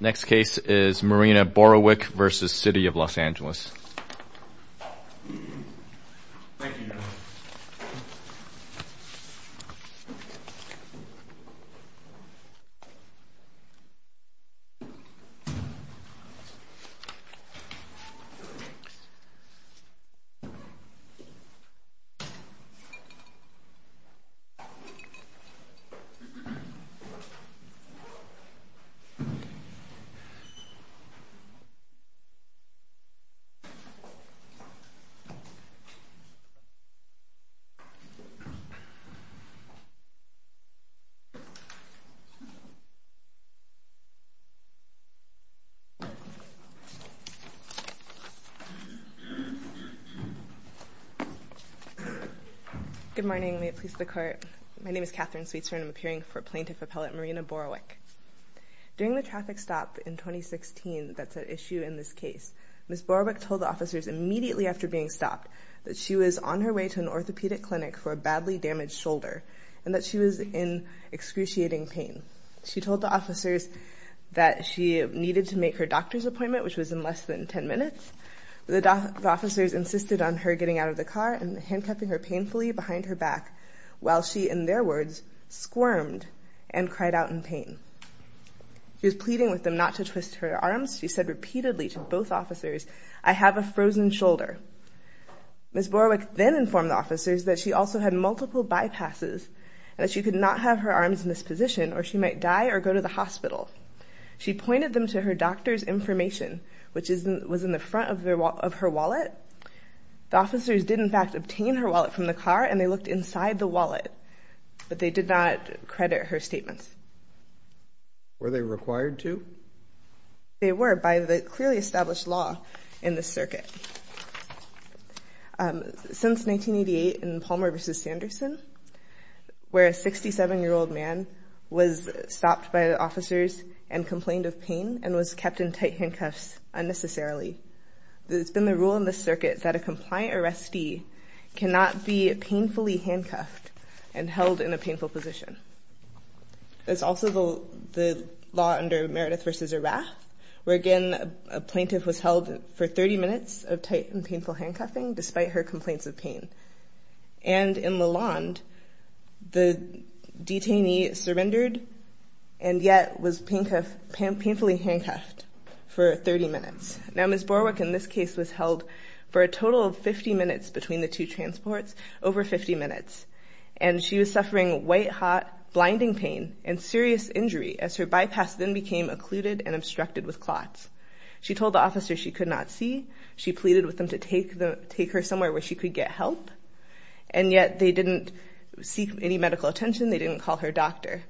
Next case is Marina Borawick v. City of Los Angeles Good morning. May it please the Court, my name is Katherine Sweetser and I'm appearing for Plaintiff Appellate Marina Borawick. During the traffic stop in 2016 that's at issue in this case, Ms. Borawick told the officers immediately after being stopped that she was on her way to an orthopedic clinic for a badly damaged shoulder and that she was in excruciating pain. She told the officers that she needed to make her doctor's appointment, which was in less than 10 minutes. The officers insisted on her getting out of the car and handcuffing her painfully behind her back while she, in their words, squirmed and cried out in pain. She was pleading with them not to twist her arms. She said repeatedly to both officers, I have a frozen shoulder. Ms. Borawick then informed the officers that she also had multiple bypasses and that she could not have her arms in this position or she might die or go to the hospital. She pointed them to her doctor's information, which was in the front of her wallet. The officers did in fact obtain her wallet from the car and they looked inside the wallet, but they did not credit her statements. Were they required to? They were by the clearly established law in the circuit. Since 1988 in Palmer v. Sanderson, where a 67 year old man was stopped by the officers and complained of pain and was kept in tight handcuffs unnecessarily. It's been the rule in the circuit that a compliant arrestee cannot be painfully handcuffed and held in a painful position. It's also the law under Meredith v. Arath, where again a plaintiff was held for 30 minutes of tight and painful handcuffing despite her complaints of pain. And in Lalonde, the detainee surrendered and yet was painfully handcuffed for 30 minutes. Now Ms. Borawick in this case was held for a total of 50 minutes between the two transports, over 50 minutes, and she was suffering white hot blinding pain and serious injury as her bypass then became occluded and obstructed with clots. She told the officers she could not see. She pleaded with them to take her somewhere where she could get help, and yet they didn't seek any medical attention. They didn't call her doctor.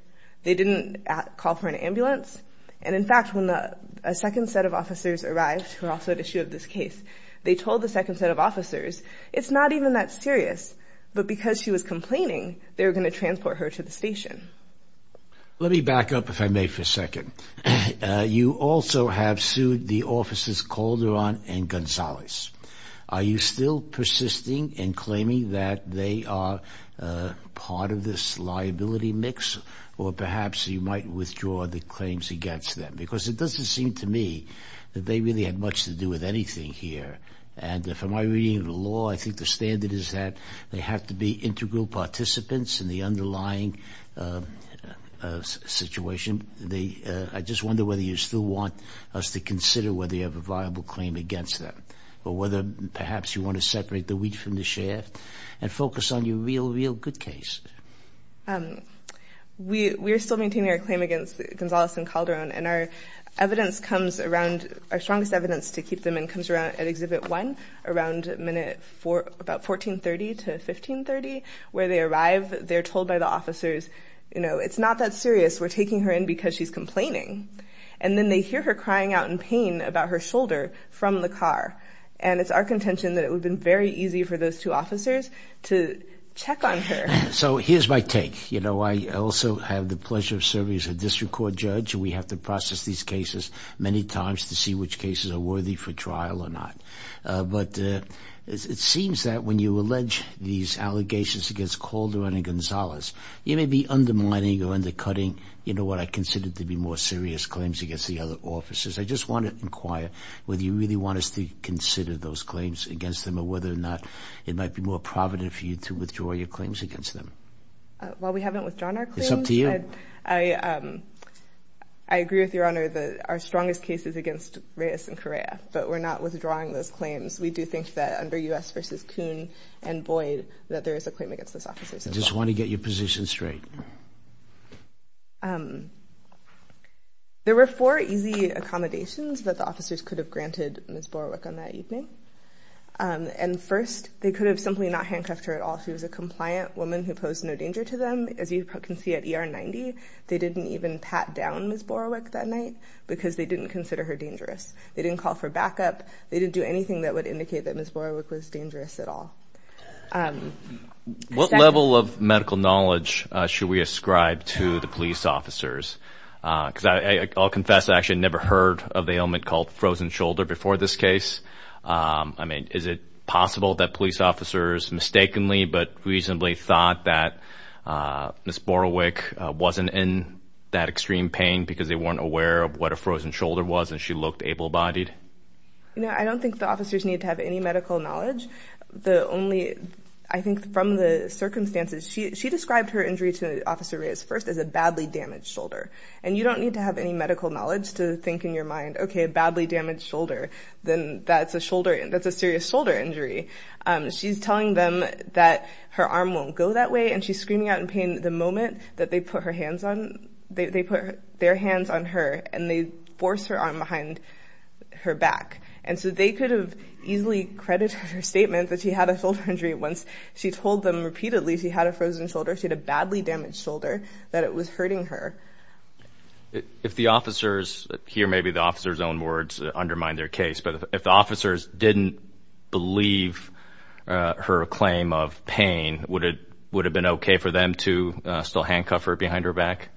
They didn't call for an ambulance, and in fact when a second set of officers arrived, who are also at issue of this case, they told the second set of officers it's not even that serious, but because she was complaining they were going to transport her to the station. Let me back up if I may for a second. You also have sued the officers Calderon and Gonzalez. Are you still persisting in claiming that they are part of this liability mix, or perhaps you might withdraw the claims against them? Because it doesn't seem to me that they really had much to do with anything here. And from my reading of the law, I think the standard is that they have to be integral participants in the underlying situation. I just wonder whether you still want us to consider whether you have a viable claim against them, or whether perhaps you want to separate the wheat from the chaff and focus on your real, real good case. We are still maintaining our claim against Gonzalez and Calderon, and our evidence comes around, our strongest evidence to keep them in comes around at Exhibit 1, around minute four, about 1430 to 1530, where they arrive. They're told by the officers, you know, it's not that serious. We're taking her in because she's complaining. And then they hear her in pain about her shoulder from the car. And it's our contention that it would have been very easy for those two officers to check on her. So here's my take. You know, I also have the pleasure of serving as a district court judge. We have to process these cases many times to see which cases are worthy for trial or not. But it seems that when you allege these allegations against Calderon and Gonzalez, you may be undermining or undercutting, you know, what I consider to be more serious claims against the other officers. I just want to inquire whether you really want us to consider those claims against them or whether or not it might be more provident for you to withdraw your claims against them. While we haven't withdrawn our claims, I agree with your honor that our strongest case is against Reyes and Correa, but we're not withdrawing those claims. We do think that under U.S. versus Kuhn and Boyd, that there is a claim against those officers. I just want to get your position straight. There were four easy accommodations that the officers could have granted Ms. Borowick on that evening. And first, they could have simply not handcuffed her at all. She was a compliant woman who posed no danger to them. As you can see at ER 90, they didn't even pat down Ms. Borowick that night because they didn't consider her dangerous. They didn't call for backup. They didn't do anything that would indicate that Ms. Borowick was dangerous at all. What level of medical knowledge should we ascribe to the police officers? Because I'll confess, I actually never heard of the ailment called frozen shoulder before this case. I mean, is it possible that police officers mistakenly but reasonably thought that Ms. Borowick wasn't in that extreme pain because they weren't aware of what a frozen shoulder was and she looked able-bodied? No, I don't think the officers need to have any medical knowledge. I think from the circumstances, she described her injury to Officer Reyes first as a badly damaged shoulder. And you don't need to have any medical knowledge to think in your mind, okay, a badly damaged shoulder, then that's a shoulder, that's a serious shoulder injury. She's telling them that her arm won't go that way. And she's screaming out in pain the moment that they put their hands on her and they force her arm behind her back. And so they could have easily credited her statement that she had a shoulder injury once she told them repeatedly she had a frozen shoulder, she had a badly damaged shoulder, that it was hurting her. If the officers, here maybe the officers own words undermine their case, but if the officers didn't believe her claim of pain, would it would have been okay for them to still handcuff her behind her back?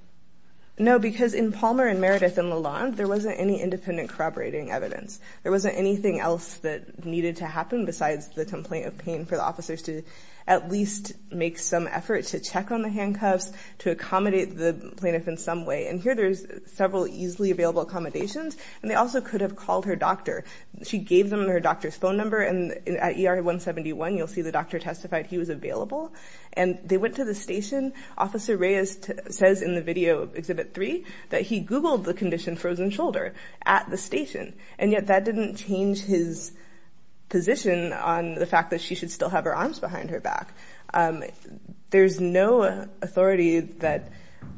No, because in Palmer and Meredith and Lalonde, there wasn't any independent corroborating evidence. There wasn't anything else that needed to happen besides the complaint of pain for the officers to at least make some effort to check on the handcuffs, to accommodate the plaintiff in some way. And here there's several easily available accommodations, and they also could have called her doctor. She gave them her doctor's phone number and at ER 171, you'll see the doctor testified he was available. And they went to the station, Officer Reyes says in the video Exhibit 3, that he googled the condition frozen shoulder at the station, and yet that didn't change his position on the fact that she should still have her arms behind her back. There's no authority that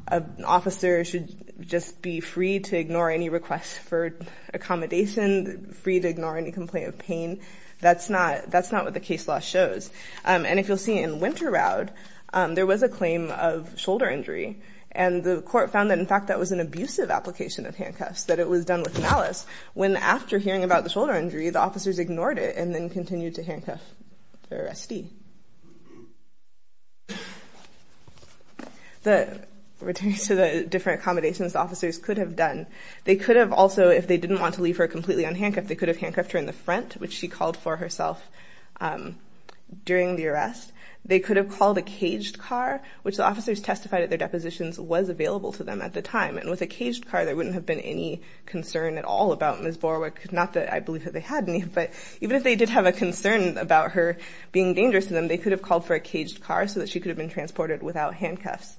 an officer should just be free to ignore any requests for accommodation, free to ignore any complaint of pain. That's not what the case law shows. And if you'll see in Winter Rowd, there was a claim of shoulder injury, and the court found that in fact that was an abusive application of handcuffs, that it was done with malice, when after hearing about the shoulder injury, the officers ignored it and then continued to handcuff the arrestee. Returning to the different accommodations officers could have done, they could have also, if they didn't want to leave her completely unhandcuffed, they could have handcuffed her in the front, which she called for herself during the arrest. They could have called a caged car, which the officers testified at their depositions was available to them at the time. And with a caged car, there wouldn't have been any concern at all about Ms. Borwick, not that I believe that they had any, but even if they did have a concern about her being dangerous to them, they could have called for a caged car so that she could have been transported without handcuffs.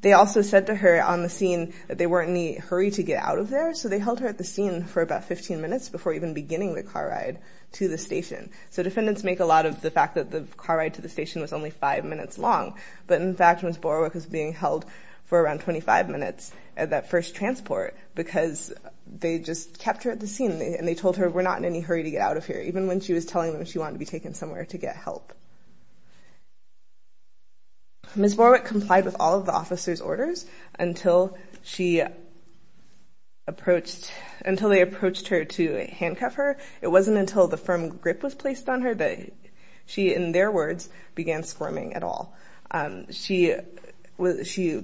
They also said to her on the scene that they weren't in any hurry to get out of there, so they held her at the scene for about 15 minutes before even beginning the car ride to the station. So defendants make a lot of the fact that the car ride to the station was only five minutes long, but in fact Ms. Borwick was being held for around 25 minutes at that first transport because they just kept her at the scene and they told her we're not in any hurry to get out of here, even when she was telling them she wanted to be taken somewhere to get help. Ms. Borwick complied with all of the officers orders until they approached her to handcuff her. It wasn't until the firm grip was placed on her that she, in their words, began squirming at all. She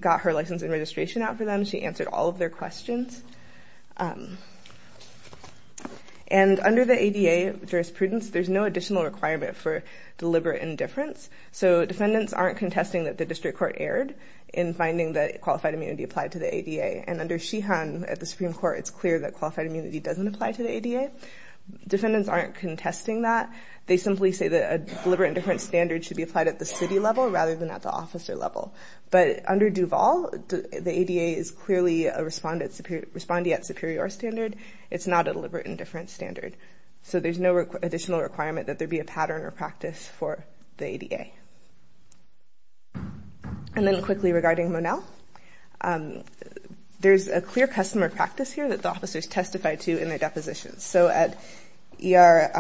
got her license and registration out for them, she answered all of their questions. And under the ADA jurisprudence, there's no additional requirement for deliberate indifference, so defendants aren't contesting that the district court erred in finding that qualified immunity applied to the ADA. And under Sheehan at the Supreme Court, it's clear that qualified immunity doesn't apply to the ADA. Defendants aren't contesting that, they simply say that a deliberate indifference standard should be applied at the city level rather than at the officer level. But under Duval, the ADA is clearly a respondee at superior standard, it's not a deliberate indifference standard. So there's no additional And then quickly regarding Monell, there's a clear customer practice here that the officers testified to in their depositions. So at ER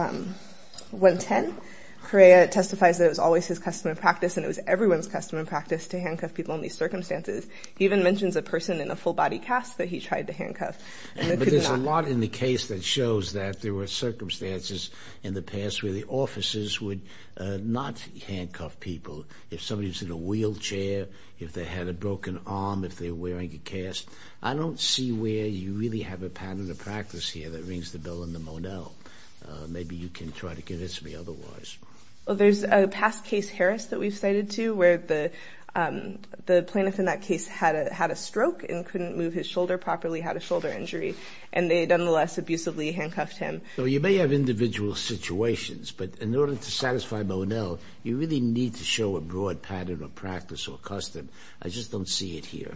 110, Correa testifies that it was always his customer practice and it was everyone's customer practice to handcuff people in these circumstances. He even mentions a person in a full body cast that he tried to handcuff. But there's a lot in the case that shows that there were circumstances in the past where the people, if somebody was in a wheelchair, if they had a broken arm, if they were wearing a cast, I don't see where you really have a pattern of practice here that rings the bell in the Monell. Maybe you can try to convince me otherwise. Well, there's a past case, Harris, that we've cited to where the plaintiff in that case had a stroke and couldn't move his shoulder properly, had a shoulder injury, and they nonetheless abusively handcuffed him. So you may have individual situations, but in order to satisfy Monell, you really need to show a broad pattern of practice or custom. I just don't see it here.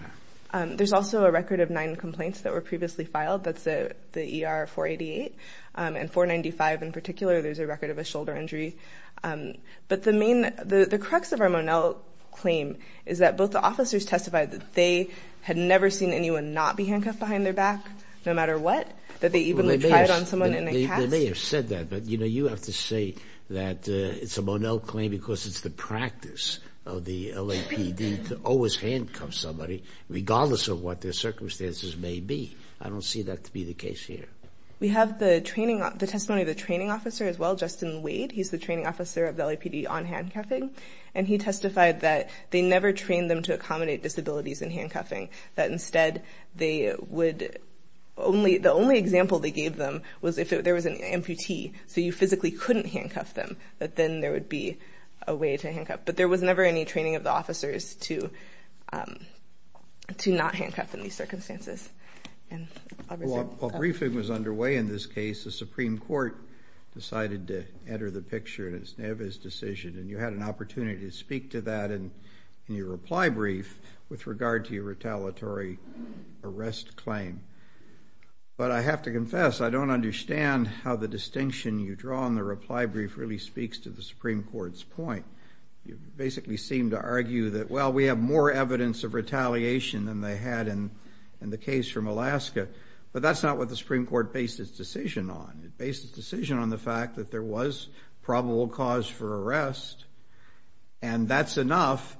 There's also a record of nine complaints that were previously filed. That's the ER 488 and 495 in particular. There's a record of a shoulder injury. But the main, the crux of our Monell claim is that both the officers testified that they had never seen anyone not be handcuffed behind their back, no matter what, that they even tried on someone in a cast. They may have said that, but you have to say that it's a Monell claim because it's the practice of the LAPD to always handcuff somebody, regardless of what their circumstances may be. I don't see that to be the case here. We have the testimony of the training officer as well, Justin Wade. He's the training officer of the LAPD on handcuffing. And he testified that they never trained them to accommodate disabilities in handcuffing, that instead they would, the only example they gave them was if there was an amputee, so you physically couldn't handcuff them, that then there would be a way to handcuff. But there was never any training of the officers to not handcuff in these circumstances. Well, a briefing was underway in this case. The Supreme Court decided to enter the picture in his decision. And you had an opportunity to speak to that in your reply brief with regard to your retaliatory arrest claim. But I have to confess, I don't understand how the distinction you draw in the reply brief really speaks to the Supreme Court's point. You basically seem to argue that, well, we have more evidence of retaliation than they had in the case from Alaska. But that's not what the Supreme Court based its decision on. It based its decision on the fact that there was probable cause for arrest. And that's enough.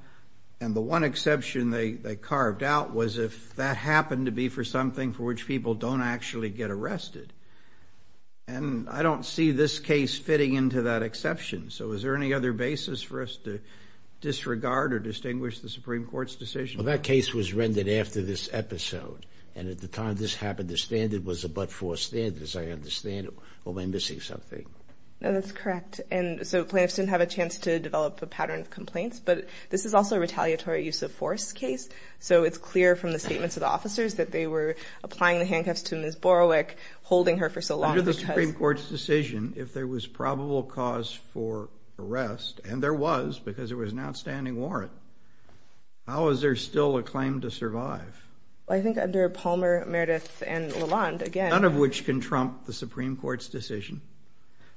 And the one exception they carved out was if that happened to be for something for which people don't actually get arrested. And I don't see this case fitting into that exception. So is there any other basis for us to disregard or distinguish the Supreme Court's decision? Well, that case was rendered after this episode. And at the time this happened, the standard was a but-for standards. I understand it. Well, am I missing something? No, that's correct. And so plaintiffs didn't have a chance to develop a pattern of complaints. But this is also a retaliatory use-of-force case. So it's clear from the statements of the officers that they were applying the handcuffs to Ms. Borowick, holding her for so long. Under the Supreme Court's decision, if there was probable cause for arrest, and there was because there was an outstanding warrant, how is there still a claim to survive? I think under Palmer, Meredith, and Lalonde, again— None of which can trump the Supreme Court's decision.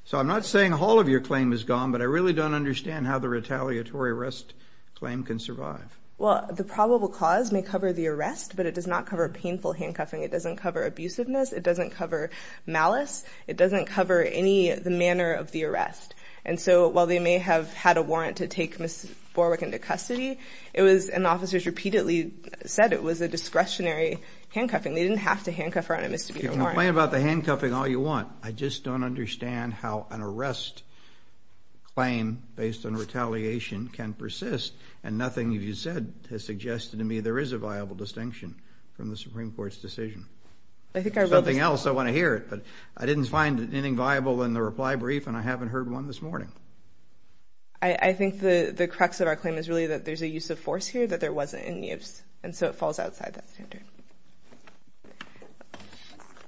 So I'm not saying all of your claim is gone, but I really don't understand how the retaliatory arrest claim can survive. Well, the probable cause may cover the arrest, but it does not cover painful handcuffing. It doesn't cover abusiveness. It doesn't cover malice. It doesn't cover any of the manner of the arrest. And so while they may have had a warrant to take Ms. Borowick into custody, it was—and officers repeatedly said it was a discretionary handcuffing. They didn't have to handcuff her on a misdemeanor warrant. You can complain about the handcuffing all you want. I just don't understand how an arrest claim based on retaliation can persist, and nothing you've said has suggested to me there is a viable distinction from the Supreme Court's decision. There's something else I want to hear, but I didn't find anything viable in the reply brief, and I haven't heard one this morning. I think the crux of our claim is really that there's a use of force here that there wasn't any use, and so it falls outside that standard.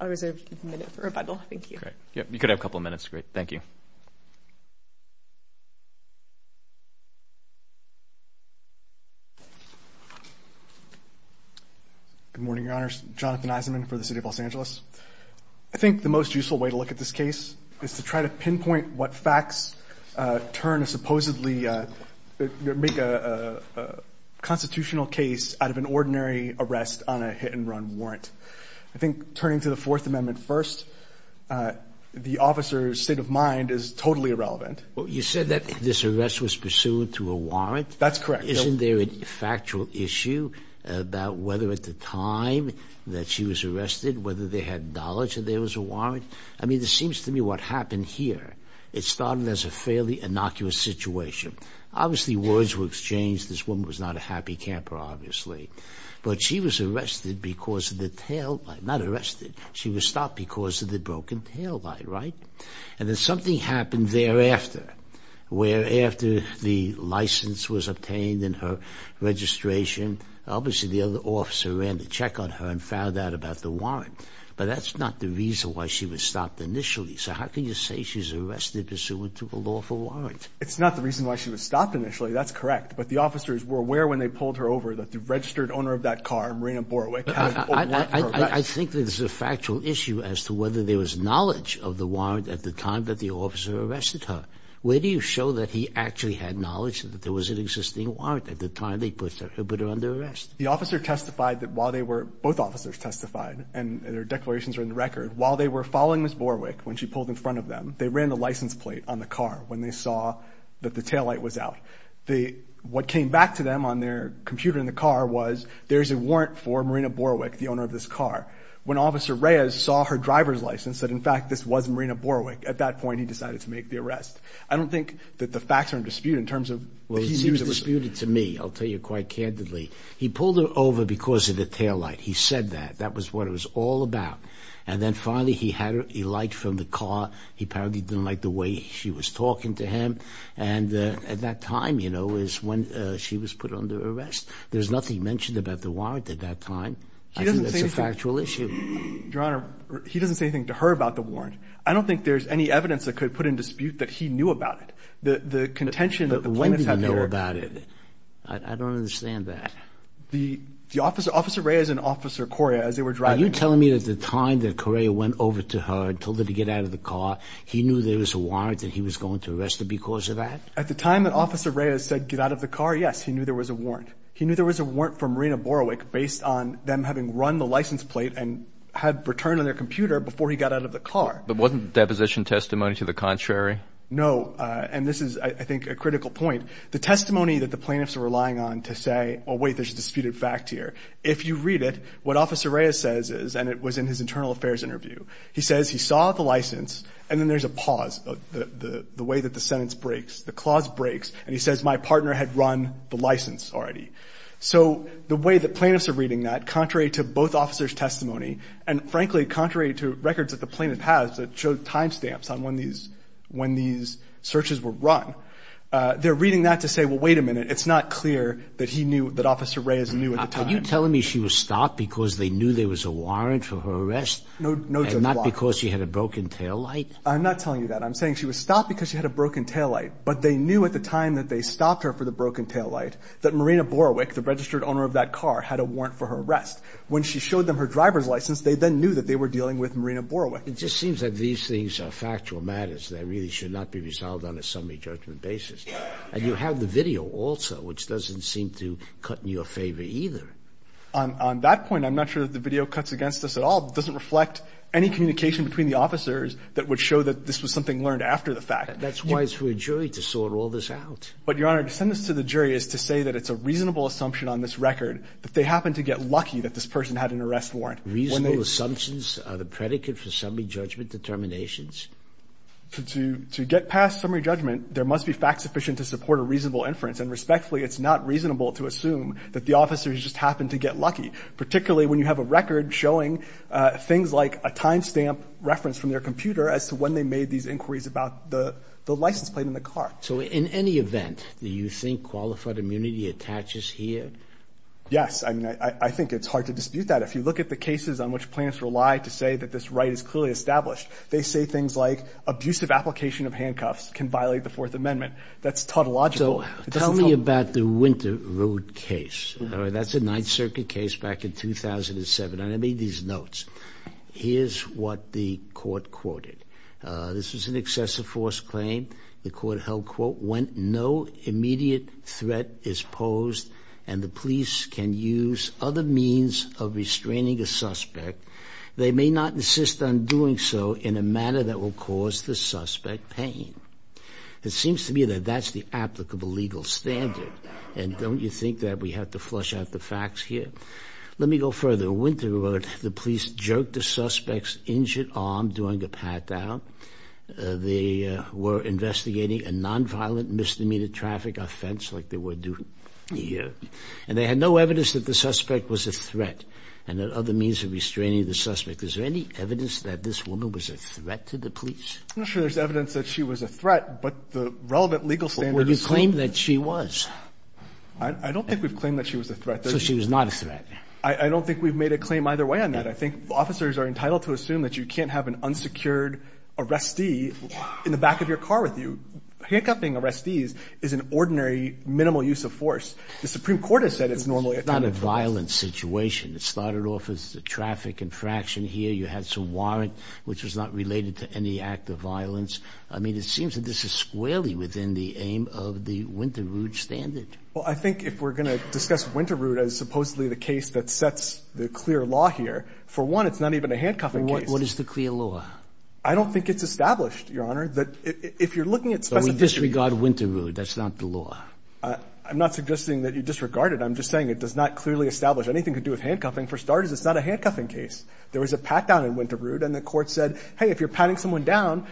I'll reserve a minute for rebuttal. Thank you. Great. You could have a couple minutes. Great. Thank you. Good morning, Your Honors. Jonathan Eisenman for the City of Los Angeles. I think the most useful way to look at this case is to try to pinpoint what facts turn a supposedly constitutional case out of an ordinary arrest on a hit-and-run warrant. I think turning to the Fourth Amendment first, the officer's state of mind is totally irrelevant. You said that this arrest was pursuant to a warrant. That's correct. Isn't there a factual issue about whether at the time that she was arrested, whether they had knowledge that there was a warrant? I mean, it seems to me what happened here, it started as a fairly innocuous situation. Obviously, words were exchanged. This woman was not a happy camper, obviously. But she was arrested because of the tail light. Not arrested. She was stopped because of the broken tail light, right? And then something happened thereafter, where after the license was obtained and her registration, obviously, the other officer ran the check on her and found out about the warrant. But that's not the reason why she was stopped initially. So how can you say she's arrested pursuant to a lawful warrant? It's not the reason why she was stopped initially. That's correct. But the officers were aware when they pulled her over that the registered owner of that car, Marina Borowick, had a warrant for arrest. I think there's a factual issue as to whether there was knowledge of the warrant at the time that the officer arrested her. Where do you show that he actually had knowledge that there was an existing warrant at the time they put her under arrest? The officer testified that while they were, both officers testified, and their declarations are in Borowick, when she pulled in front of them, they ran the license plate on the car when they saw that the tail light was out. What came back to them on their computer in the car was there's a warrant for Marina Borowick, the owner of this car. When Officer Reyes saw her driver's license, that in fact, this was Marina Borowick, at that point, he decided to make the arrest. I don't think that the facts are in dispute in terms of... Well, he was disputed to me, I'll tell you quite candidly. He pulled her over because of the tail light. He said that. That was what it was all about. And then finally, he had a light from the car. He apparently didn't like the way she was talking to him. And at that time, when she was put under arrest, there's nothing mentioned about the warrant at that time. I think that's a factual issue. Your Honor, he doesn't say anything to her about the warrant. I don't think there's any evidence that could put in dispute that he knew about it. The contention that the plaintiff had... When did he know about it? I don't understand that. The officer, Officer Reyes and Officer Correa, as they were driving... Are you telling me that at the time that Correa went over to her and told her to get out of the car, he knew there was a warrant that he was going to arrest her because of that? At the time that Officer Reyes said, get out of the car, yes, he knew there was a warrant. He knew there was a warrant for Marina Borowick based on them having run the license plate and had returned on their computer before he got out of the car. But wasn't the deposition testimony to the contrary? No. And this is, I think, a critical point. The testimony that the plaintiffs are relying on to say, oh, wait, there's a disputed fact here. If you read it, what Officer Reyes says is, and it was in his internal affairs interview, he says he saw the license, and then there's a pause, the way that the sentence breaks, the clause breaks. And he says, my partner had run the license already. So the way that plaintiffs are reading that, contrary to both officers' testimony, and frankly, contrary to records that the plaintiff has that show timestamps on when these searches were run, they're reading that to say, well, wait a minute, it's not clear that he knew, that Officer Reyes knew at the time. Are you telling me she was stopped because they knew there was a warrant for her arrest? No, Judge Block. And not because she had a broken taillight? I'm not telling you that. I'm saying she was stopped because she had a broken taillight. But they knew at the time that they stopped her for the broken taillight, that Marina Borowick, the registered owner of that car, had a warrant for her arrest. When she showed them her driver's license, they then knew that they were dealing with Marina Borowick. It just seems that these things are factual matters that really should not be resolved on a summary judgment basis. And you have the video also, which doesn't seem to cut in your favor either. On that point, I'm not sure that the video cuts against us at all. It doesn't reflect any communication between the officers that would show that this was something learned after the fact. That's wise for a jury to sort all this out. But, Your Honor, to send this to the jury is to say that it's a reasonable assumption on this record that they happened to get lucky that this person had an arrest warrant. Reasonable assumptions are the predicate for summary judgment determinations. To get past summary judgment, there must be facts sufficient to support a reasonable inference. And respectfully, it's not reasonable to assume that the officers just happened to get lucky, particularly when you have a record showing things like a time stamp reference from their computer as to when they made these inquiries about the license plate on the car. So in any event, do you think qualified immunity attaches here? Yes. I mean, I think it's hard to dispute that. If you look at the cases on which plaintiffs rely to say that this right is clearly established, they say things like abusive application of handcuffs can violate the Fourth Amendment. That's tautological. So tell me about the Winter Road case. That's a Ninth Circuit case back in 2007. And I made these notes. Here's what the court quoted. This was an excessive force claim. The court held, quote, when no immediate threat is posed and the police can use other means of restraining a suspect, they may not insist on doing so in a manner that will cause the suspect pain. It seems to me that that's the applicable legal standard. And don't you think that we have to flush out the facts here? Let me go further. Winter Road, the police jerked the suspect's injured arm during a pat down. They were investigating a nonviolent misdemeanor traffic offense like they were doing here. And they had no evidence that the suspect was a threat and that other means of restraining the suspect. Is there any evidence that this woman was a threat to the police? I'm not sure there's evidence that she was a threat, but the relevant legal standards. Would you claim that she was? I don't think we've claimed that she was a threat. So she was not a threat. I don't think we've made a claim either way on that. I think officers are entitled to assume that you can't have an unsecured arrestee in the back of your car with you. Handcuffing arrestees is an ordinary minimal use of force. The Supreme Court has said it's normally not a violent situation. It started off as a traffic infraction here. You had some warrant which was not related to any act of violence. I mean, it seems that this is squarely within the aim of the Winter Road standard. Well, I think if we're going to discuss Winter Road as supposedly the case that sets the clear law here, for one, it's not even a handcuffing. What is the clear law? I don't think it's established, Your Honor, that if you're looking at specific... But we disregard Winter Road. That's not the law. I'm not suggesting that you disregard it. I'm just saying it does not clearly establish anything to do with handcuffing. For starters, it's not a handcuffing case. There was a pat down in Winter Road, and the Court said, hey, if you're patting someone down,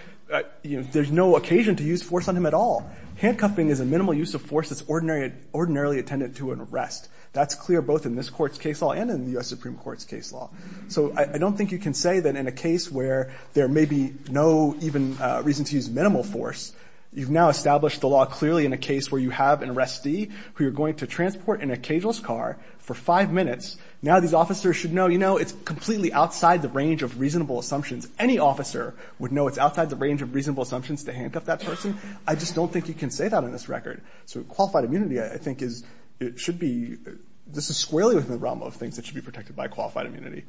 there's no occasion to use force on him at all. Handcuffing is a minimal use of force that's ordinarily attendant to an arrest. That's clear both in this Court's case law and in the U.S. Supreme Court's case law. So I don't think you can say that in a case where there may be no even reason to use minimal force. You've now established the law clearly in a case where you have an arrestee who you're going to transport in a cageless car for five minutes. Now these officers should know, you know, it's completely outside the range of reasonable assumptions. Any officer would know it's outside the range of reasonable assumptions to handcuff that person. I just don't think you can say that on this record. So qualified immunity, I think, is... It should be... This is squarely within the realm of things that should be protected by qualified immunity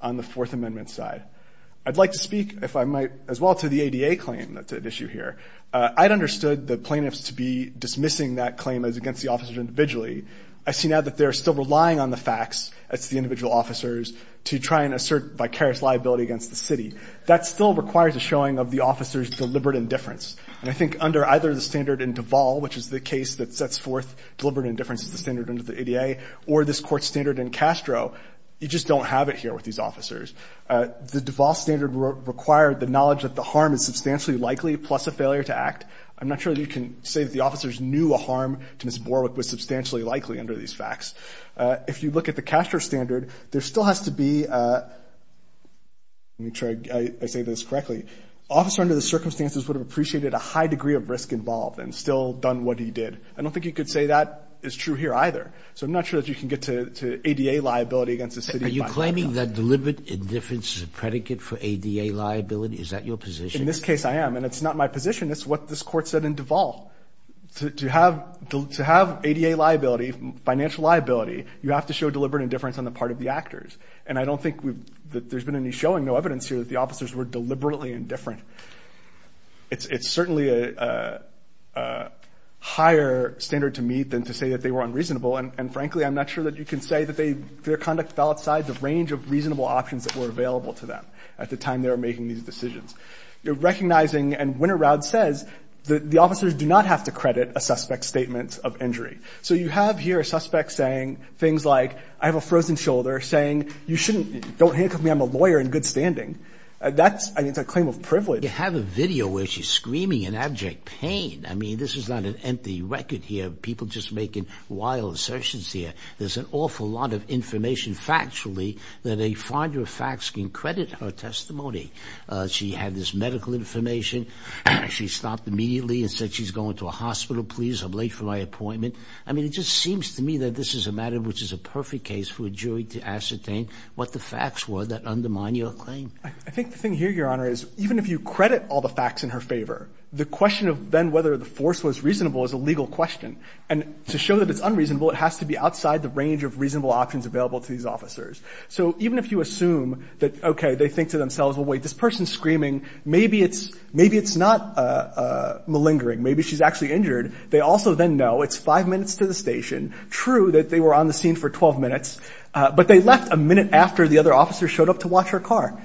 on the Fourth Amendment side. I'd like to speak, if I might, as well to the ADA claim that's at issue here. I'd understood the plaintiffs to be dismissing that claim as against the officers individually. I see now that they're still relying on the facts as the individual officers to try and assert vicarious liability against the city. That still requires a showing of the officers' deliberate indifference. And I think under either the standard in Duval, which is the case that sets forth deliberate indifference as the standard under the ADA, or this Court's standard in Castro, you just don't have it with these officers. The Duval standard required the knowledge that the harm is substantially likely plus a failure to act. I'm not sure that you can say that the officers knew a harm to Ms. Borwick was substantially likely under these facts. If you look at the Castro standard, there still has to be a... Let me make sure I say this correctly. Officer under the circumstances would have appreciated a high degree of risk involved and still done what he did. I don't think you could say that is true here either. So I'm not sure that you can get to ADA liability against the city. Are you claiming that deliberate indifference is a predicate for ADA liability? Is that your position? In this case, I am. And it's not my position. It's what this Court said in Duval. To have ADA liability, financial liability, you have to show deliberate indifference on the part of the actors. And I don't think there's been any showing, no evidence here that the officers were deliberately indifferent. It's certainly a higher standard to meet than to say that they were unreasonable. And frankly, I'm not sure that you can say that their conduct fell outside the range of reasonable options that were available to them at the time they were making these decisions. Recognizing... And Winter Raud says that the officers do not have to credit a suspect's statement of injury. So you have here a suspect saying things like, I have a frozen shoulder, saying you shouldn't... Don't handcuff me. I'm a lawyer in good standing. That's a claim of privilege. You have a video where she's screaming in abject pain. I mean, this is not an empty record here of people just making wild assertions here. There's an awful lot of information factually that a finder of facts can credit her testimony. She had this medical information. She stopped immediately and said she's going to a hospital, please. I'm late for my appointment. I mean, it just seems to me that this is a matter which is a perfect case for a jury to ascertain what the facts were that undermine your claim. I think the thing here, Your Honor, is even if you credit all the facts in her favor, the question of then whether the force was reasonable is a legal question. And to show that it's unreasonable, it has to be outside the range of reasonable options available to these officers. So even if you assume that, okay, they think to themselves, well, wait, this person's screaming. Maybe it's not malingering. Maybe she's actually injured. They also then know it's five minutes to the station. True that they were on the scene for 12 minutes, but they left a minute after the other officer showed up to watch her car.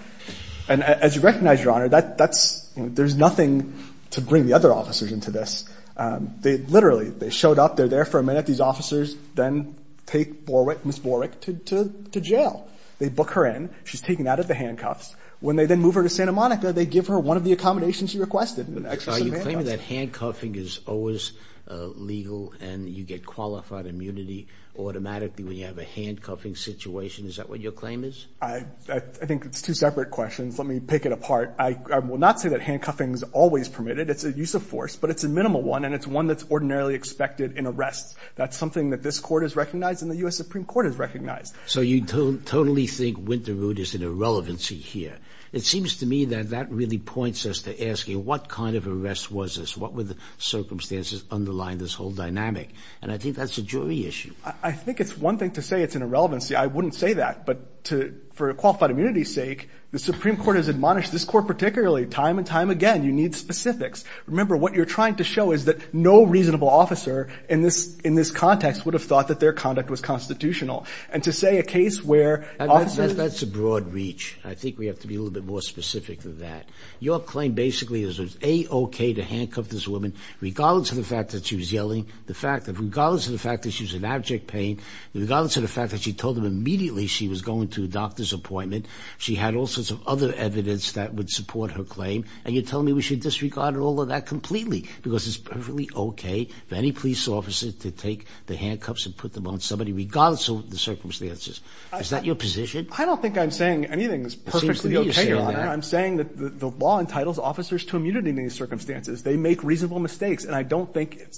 And as you recognize, Your Honor, that's, there's nothing to bring the other officers into this. They literally, they showed up, they're there for a minute. These officers then take Ms. Borwick to jail. They book her in. She's taken out of the handcuffs. When they then move her to Santa Monica, they give her one of the accommodations she requested. Are you claiming that handcuffing is always legal and you get qualified immunity automatically when you have a handcuffing situation? Is that what your claim is? I think it's two separate questions. Let me pick it apart. I will not say that handcuffing is always permitted. It's a use of force, but it's a minimal one. And it's one that's ordinarily expected in arrests. That's something that this court has recognized and the U.S. Supreme Court has recognized. So you totally think Winterwood is an irrelevancy here. It seems to me that that really points us to asking what kind of arrest was this? What were the circumstances underlying this whole dynamic? And I think that's a jury issue. I think it's one thing to say it's an irrelevancy. I wouldn't say that. But for qualified immunity's sake, the Supreme Court has admonished this court particularly time and time again. You need specifics. Remember, what you're trying to show is that no reasonable officer in this context would have thought that their conduct was constitutional. And to say a case where officers... That's a broad reach. I think we have to be a little bit more specific than that. Your claim basically is it's A-OK to handcuff this woman regardless of the fact that she was in abject pain, regardless of the fact that she told them immediately she was going to a doctor's appointment. She had all sorts of other evidence that would support her claim. And you're telling me we should disregard all of that completely because it's perfectly OK for any police officer to take the handcuffs and put them on somebody regardless of the circumstances. Is that your position? I don't think I'm saying anything is perfectly OK, Your Honor. I'm saying that the law entitles officers to immunity in these circumstances. They make reasonable mistakes. And I don't it's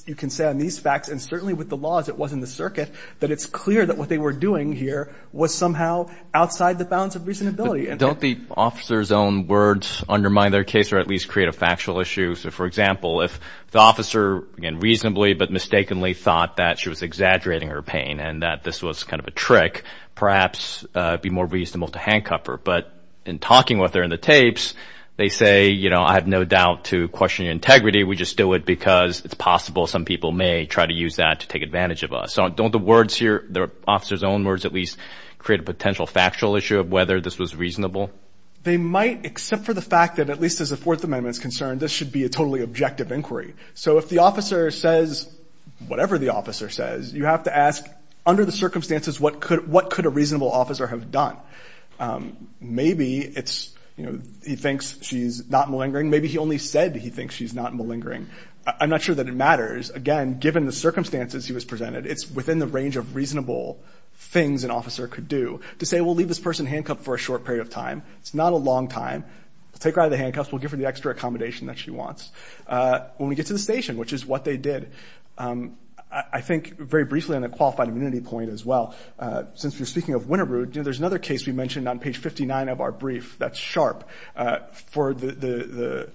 clear that what they were doing here was somehow outside the bounds of reasonability. Don't the officer's own words undermine their case or at least create a factual issue? So for example, if the officer, again, reasonably but mistakenly thought that she was exaggerating her pain and that this was kind of a trick, perhaps it would be more reasonable to handcuff her. But in talking with her in the tapes, they say, you know, I have no doubt to question integrity. We just do it because it's possible some people may try to use that to take advantage of us. So don't the words here, the officer's own words, at least create a potential factual issue of whether this was reasonable? They might, except for the fact that at least as a Fourth Amendment is concerned, this should be a totally objective inquiry. So if the officer says whatever the officer says, you have to ask under the circumstances what could what could a reasonable officer have done? Maybe it's, you know, he thinks she's not malingering. Maybe he only said he thinks she's not malingering. I'm not sure that it matters. Again, given the circumstances he was presented, it's within the range of reasonable things an officer could do to say, we'll leave this person handcuffed for a short period of time. It's not a long time. We'll take her out of the handcuffs. We'll give her the extra accommodation that she wants. When we get to the station, which is what they did, I think very briefly on a qualified immunity point as well, since we're speaking of Winterbrook, you know, there's another case we mentioned on page 59 of our brief that's sharp for the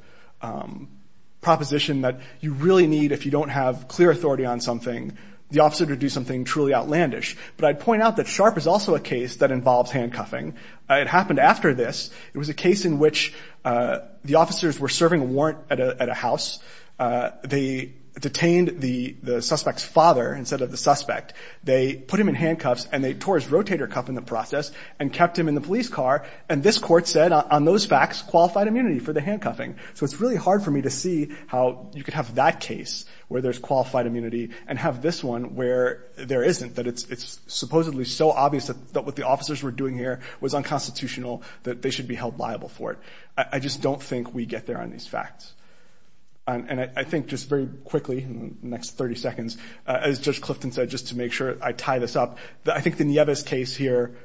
proposition that you really need if you don't have clear authority on something, the officer to do something truly outlandish. But I'd point out that sharp is also a case that involves handcuffing. It happened after this. It was a case in which the officers were serving a warrant at a house. They detained the suspect's father instead of the suspect. They put him in handcuffs and they tore his rotator cuff in the process and kept him in the police car. And this court said on those facts, qualified immunity for the handcuffing. So it's really hard for me to see how you could have that case where there's qualified immunity and have this one where there isn't, that it's supposedly so obvious that what the officers were doing here was unconstitutional, that they should be held liable for it. I just don't think we get there on these facts. And I think just very quickly, in the next 30 seconds, as Judge Clifton said, just to make sure I tie this up, that I think the Nieves case here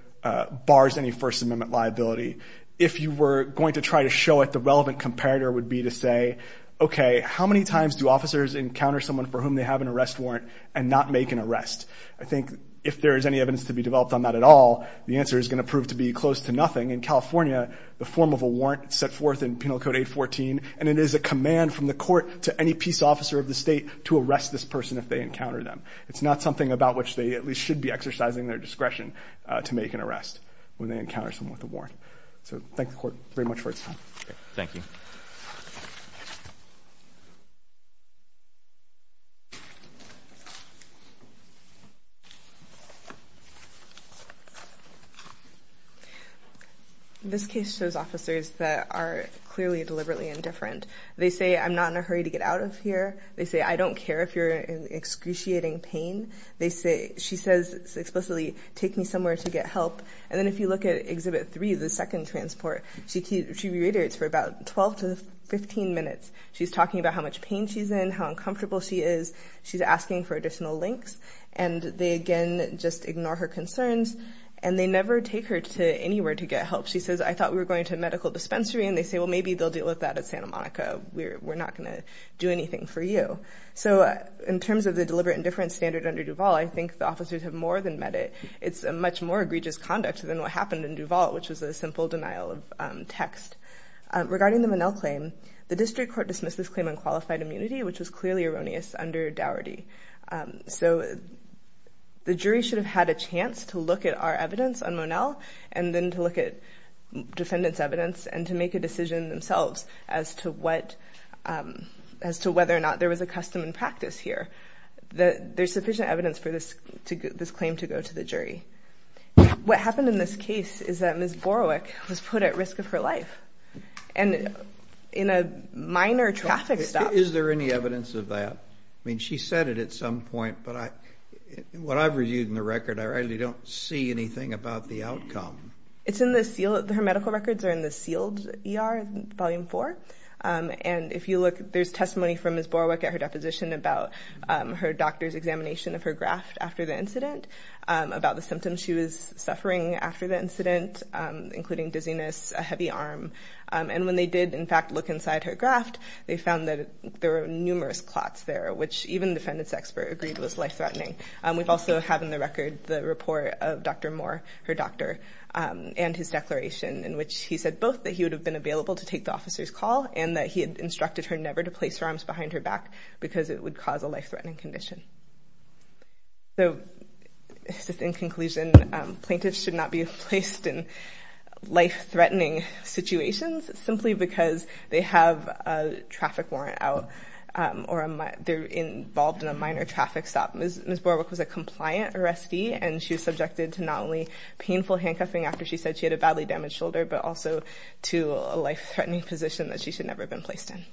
bars any First Amendment liability. If you were going to try to show it, the relevant comparator would be to say, okay, how many times do officers encounter someone for whom they have an arrest warrant and not make an arrest? I think if there is any evidence to be developed on that at all, the answer is going to prove to be close to nothing. In California, the form of a warrant is set forth in Penal Code 814, and it is a command from the court to any peace officer of the state to arrest this person if they encounter them. It's not something about which they at least should be exercising their discretion to make an arrest when they encounter someone with a warrant. So thank the court very much for its time. Thank you. This case shows officers that are clearly deliberately indifferent. They say, I'm not in a hurry to get out of here. They say, I don't care if you're in excruciating pain. They say, she says explicitly, take me somewhere to get help. And then if you look at Exhibit 3, the second transport, she reiterates for about 12 to 15 minutes. She's talking about how much pain she's in, how uncomfortable she is. She's asking for additional links. And they again just ignore her concerns. And they never take her to anywhere to get help. She says, I thought we were going to a medical dispensary. And they say, well, maybe they'll deal with that at Santa Monica. We're not going to do anything for you. So in terms of the deliberate indifference standard under Duval, I think the officers have more than met it. It's a much more egregious conduct than what happened in Duval, which was a simple denial of text. Regarding the Monell claim, the district court dismissed this claim on qualified immunity, which was clearly erroneous under Daugherty. So the jury should have had a chance to look at our evidence on Monell, and then to look at defendant's evidence, and to make a decision themselves as to whether or not there was a custom and practice here. There's sufficient evidence for this claim to go to the jury. What happened in this case is that Ms. Borowick was put at risk of her life, and in a minor traffic stop. Is there any evidence of that? I mean, she said it at some point, but what I've reviewed in the record, I really don't see anything about the outcome. It's in the sealed, her medical records are in the sealed ER, Volume 4. And if you look, there's testimony from Ms. Borowick at her deposition about her doctor's examination of her graft after the incident, about the symptoms she was suffering after the incident, including dizziness, a heavy arm. And when they did, in fact, look inside her graft, they found that there were numerous clots there, which even the defendant's expert agreed was life-threatening. We also have in the record the report of Dr. Moore, her doctor, and his declaration, in which he said both that he would have been available to take the officer's call, and that he had instructed her never to place her arms behind back because it would cause a life-threatening condition. So, in conclusion, plaintiffs should not be placed in life-threatening situations, simply because they have a traffic warrant out, or they're involved in a minor traffic stop. Ms. Borowick was a compliant arrestee, and she was subjected to not only painful handcuffing after she said she had a badly damaged shoulder, but also to a life-threatening position that she should never have been placed in.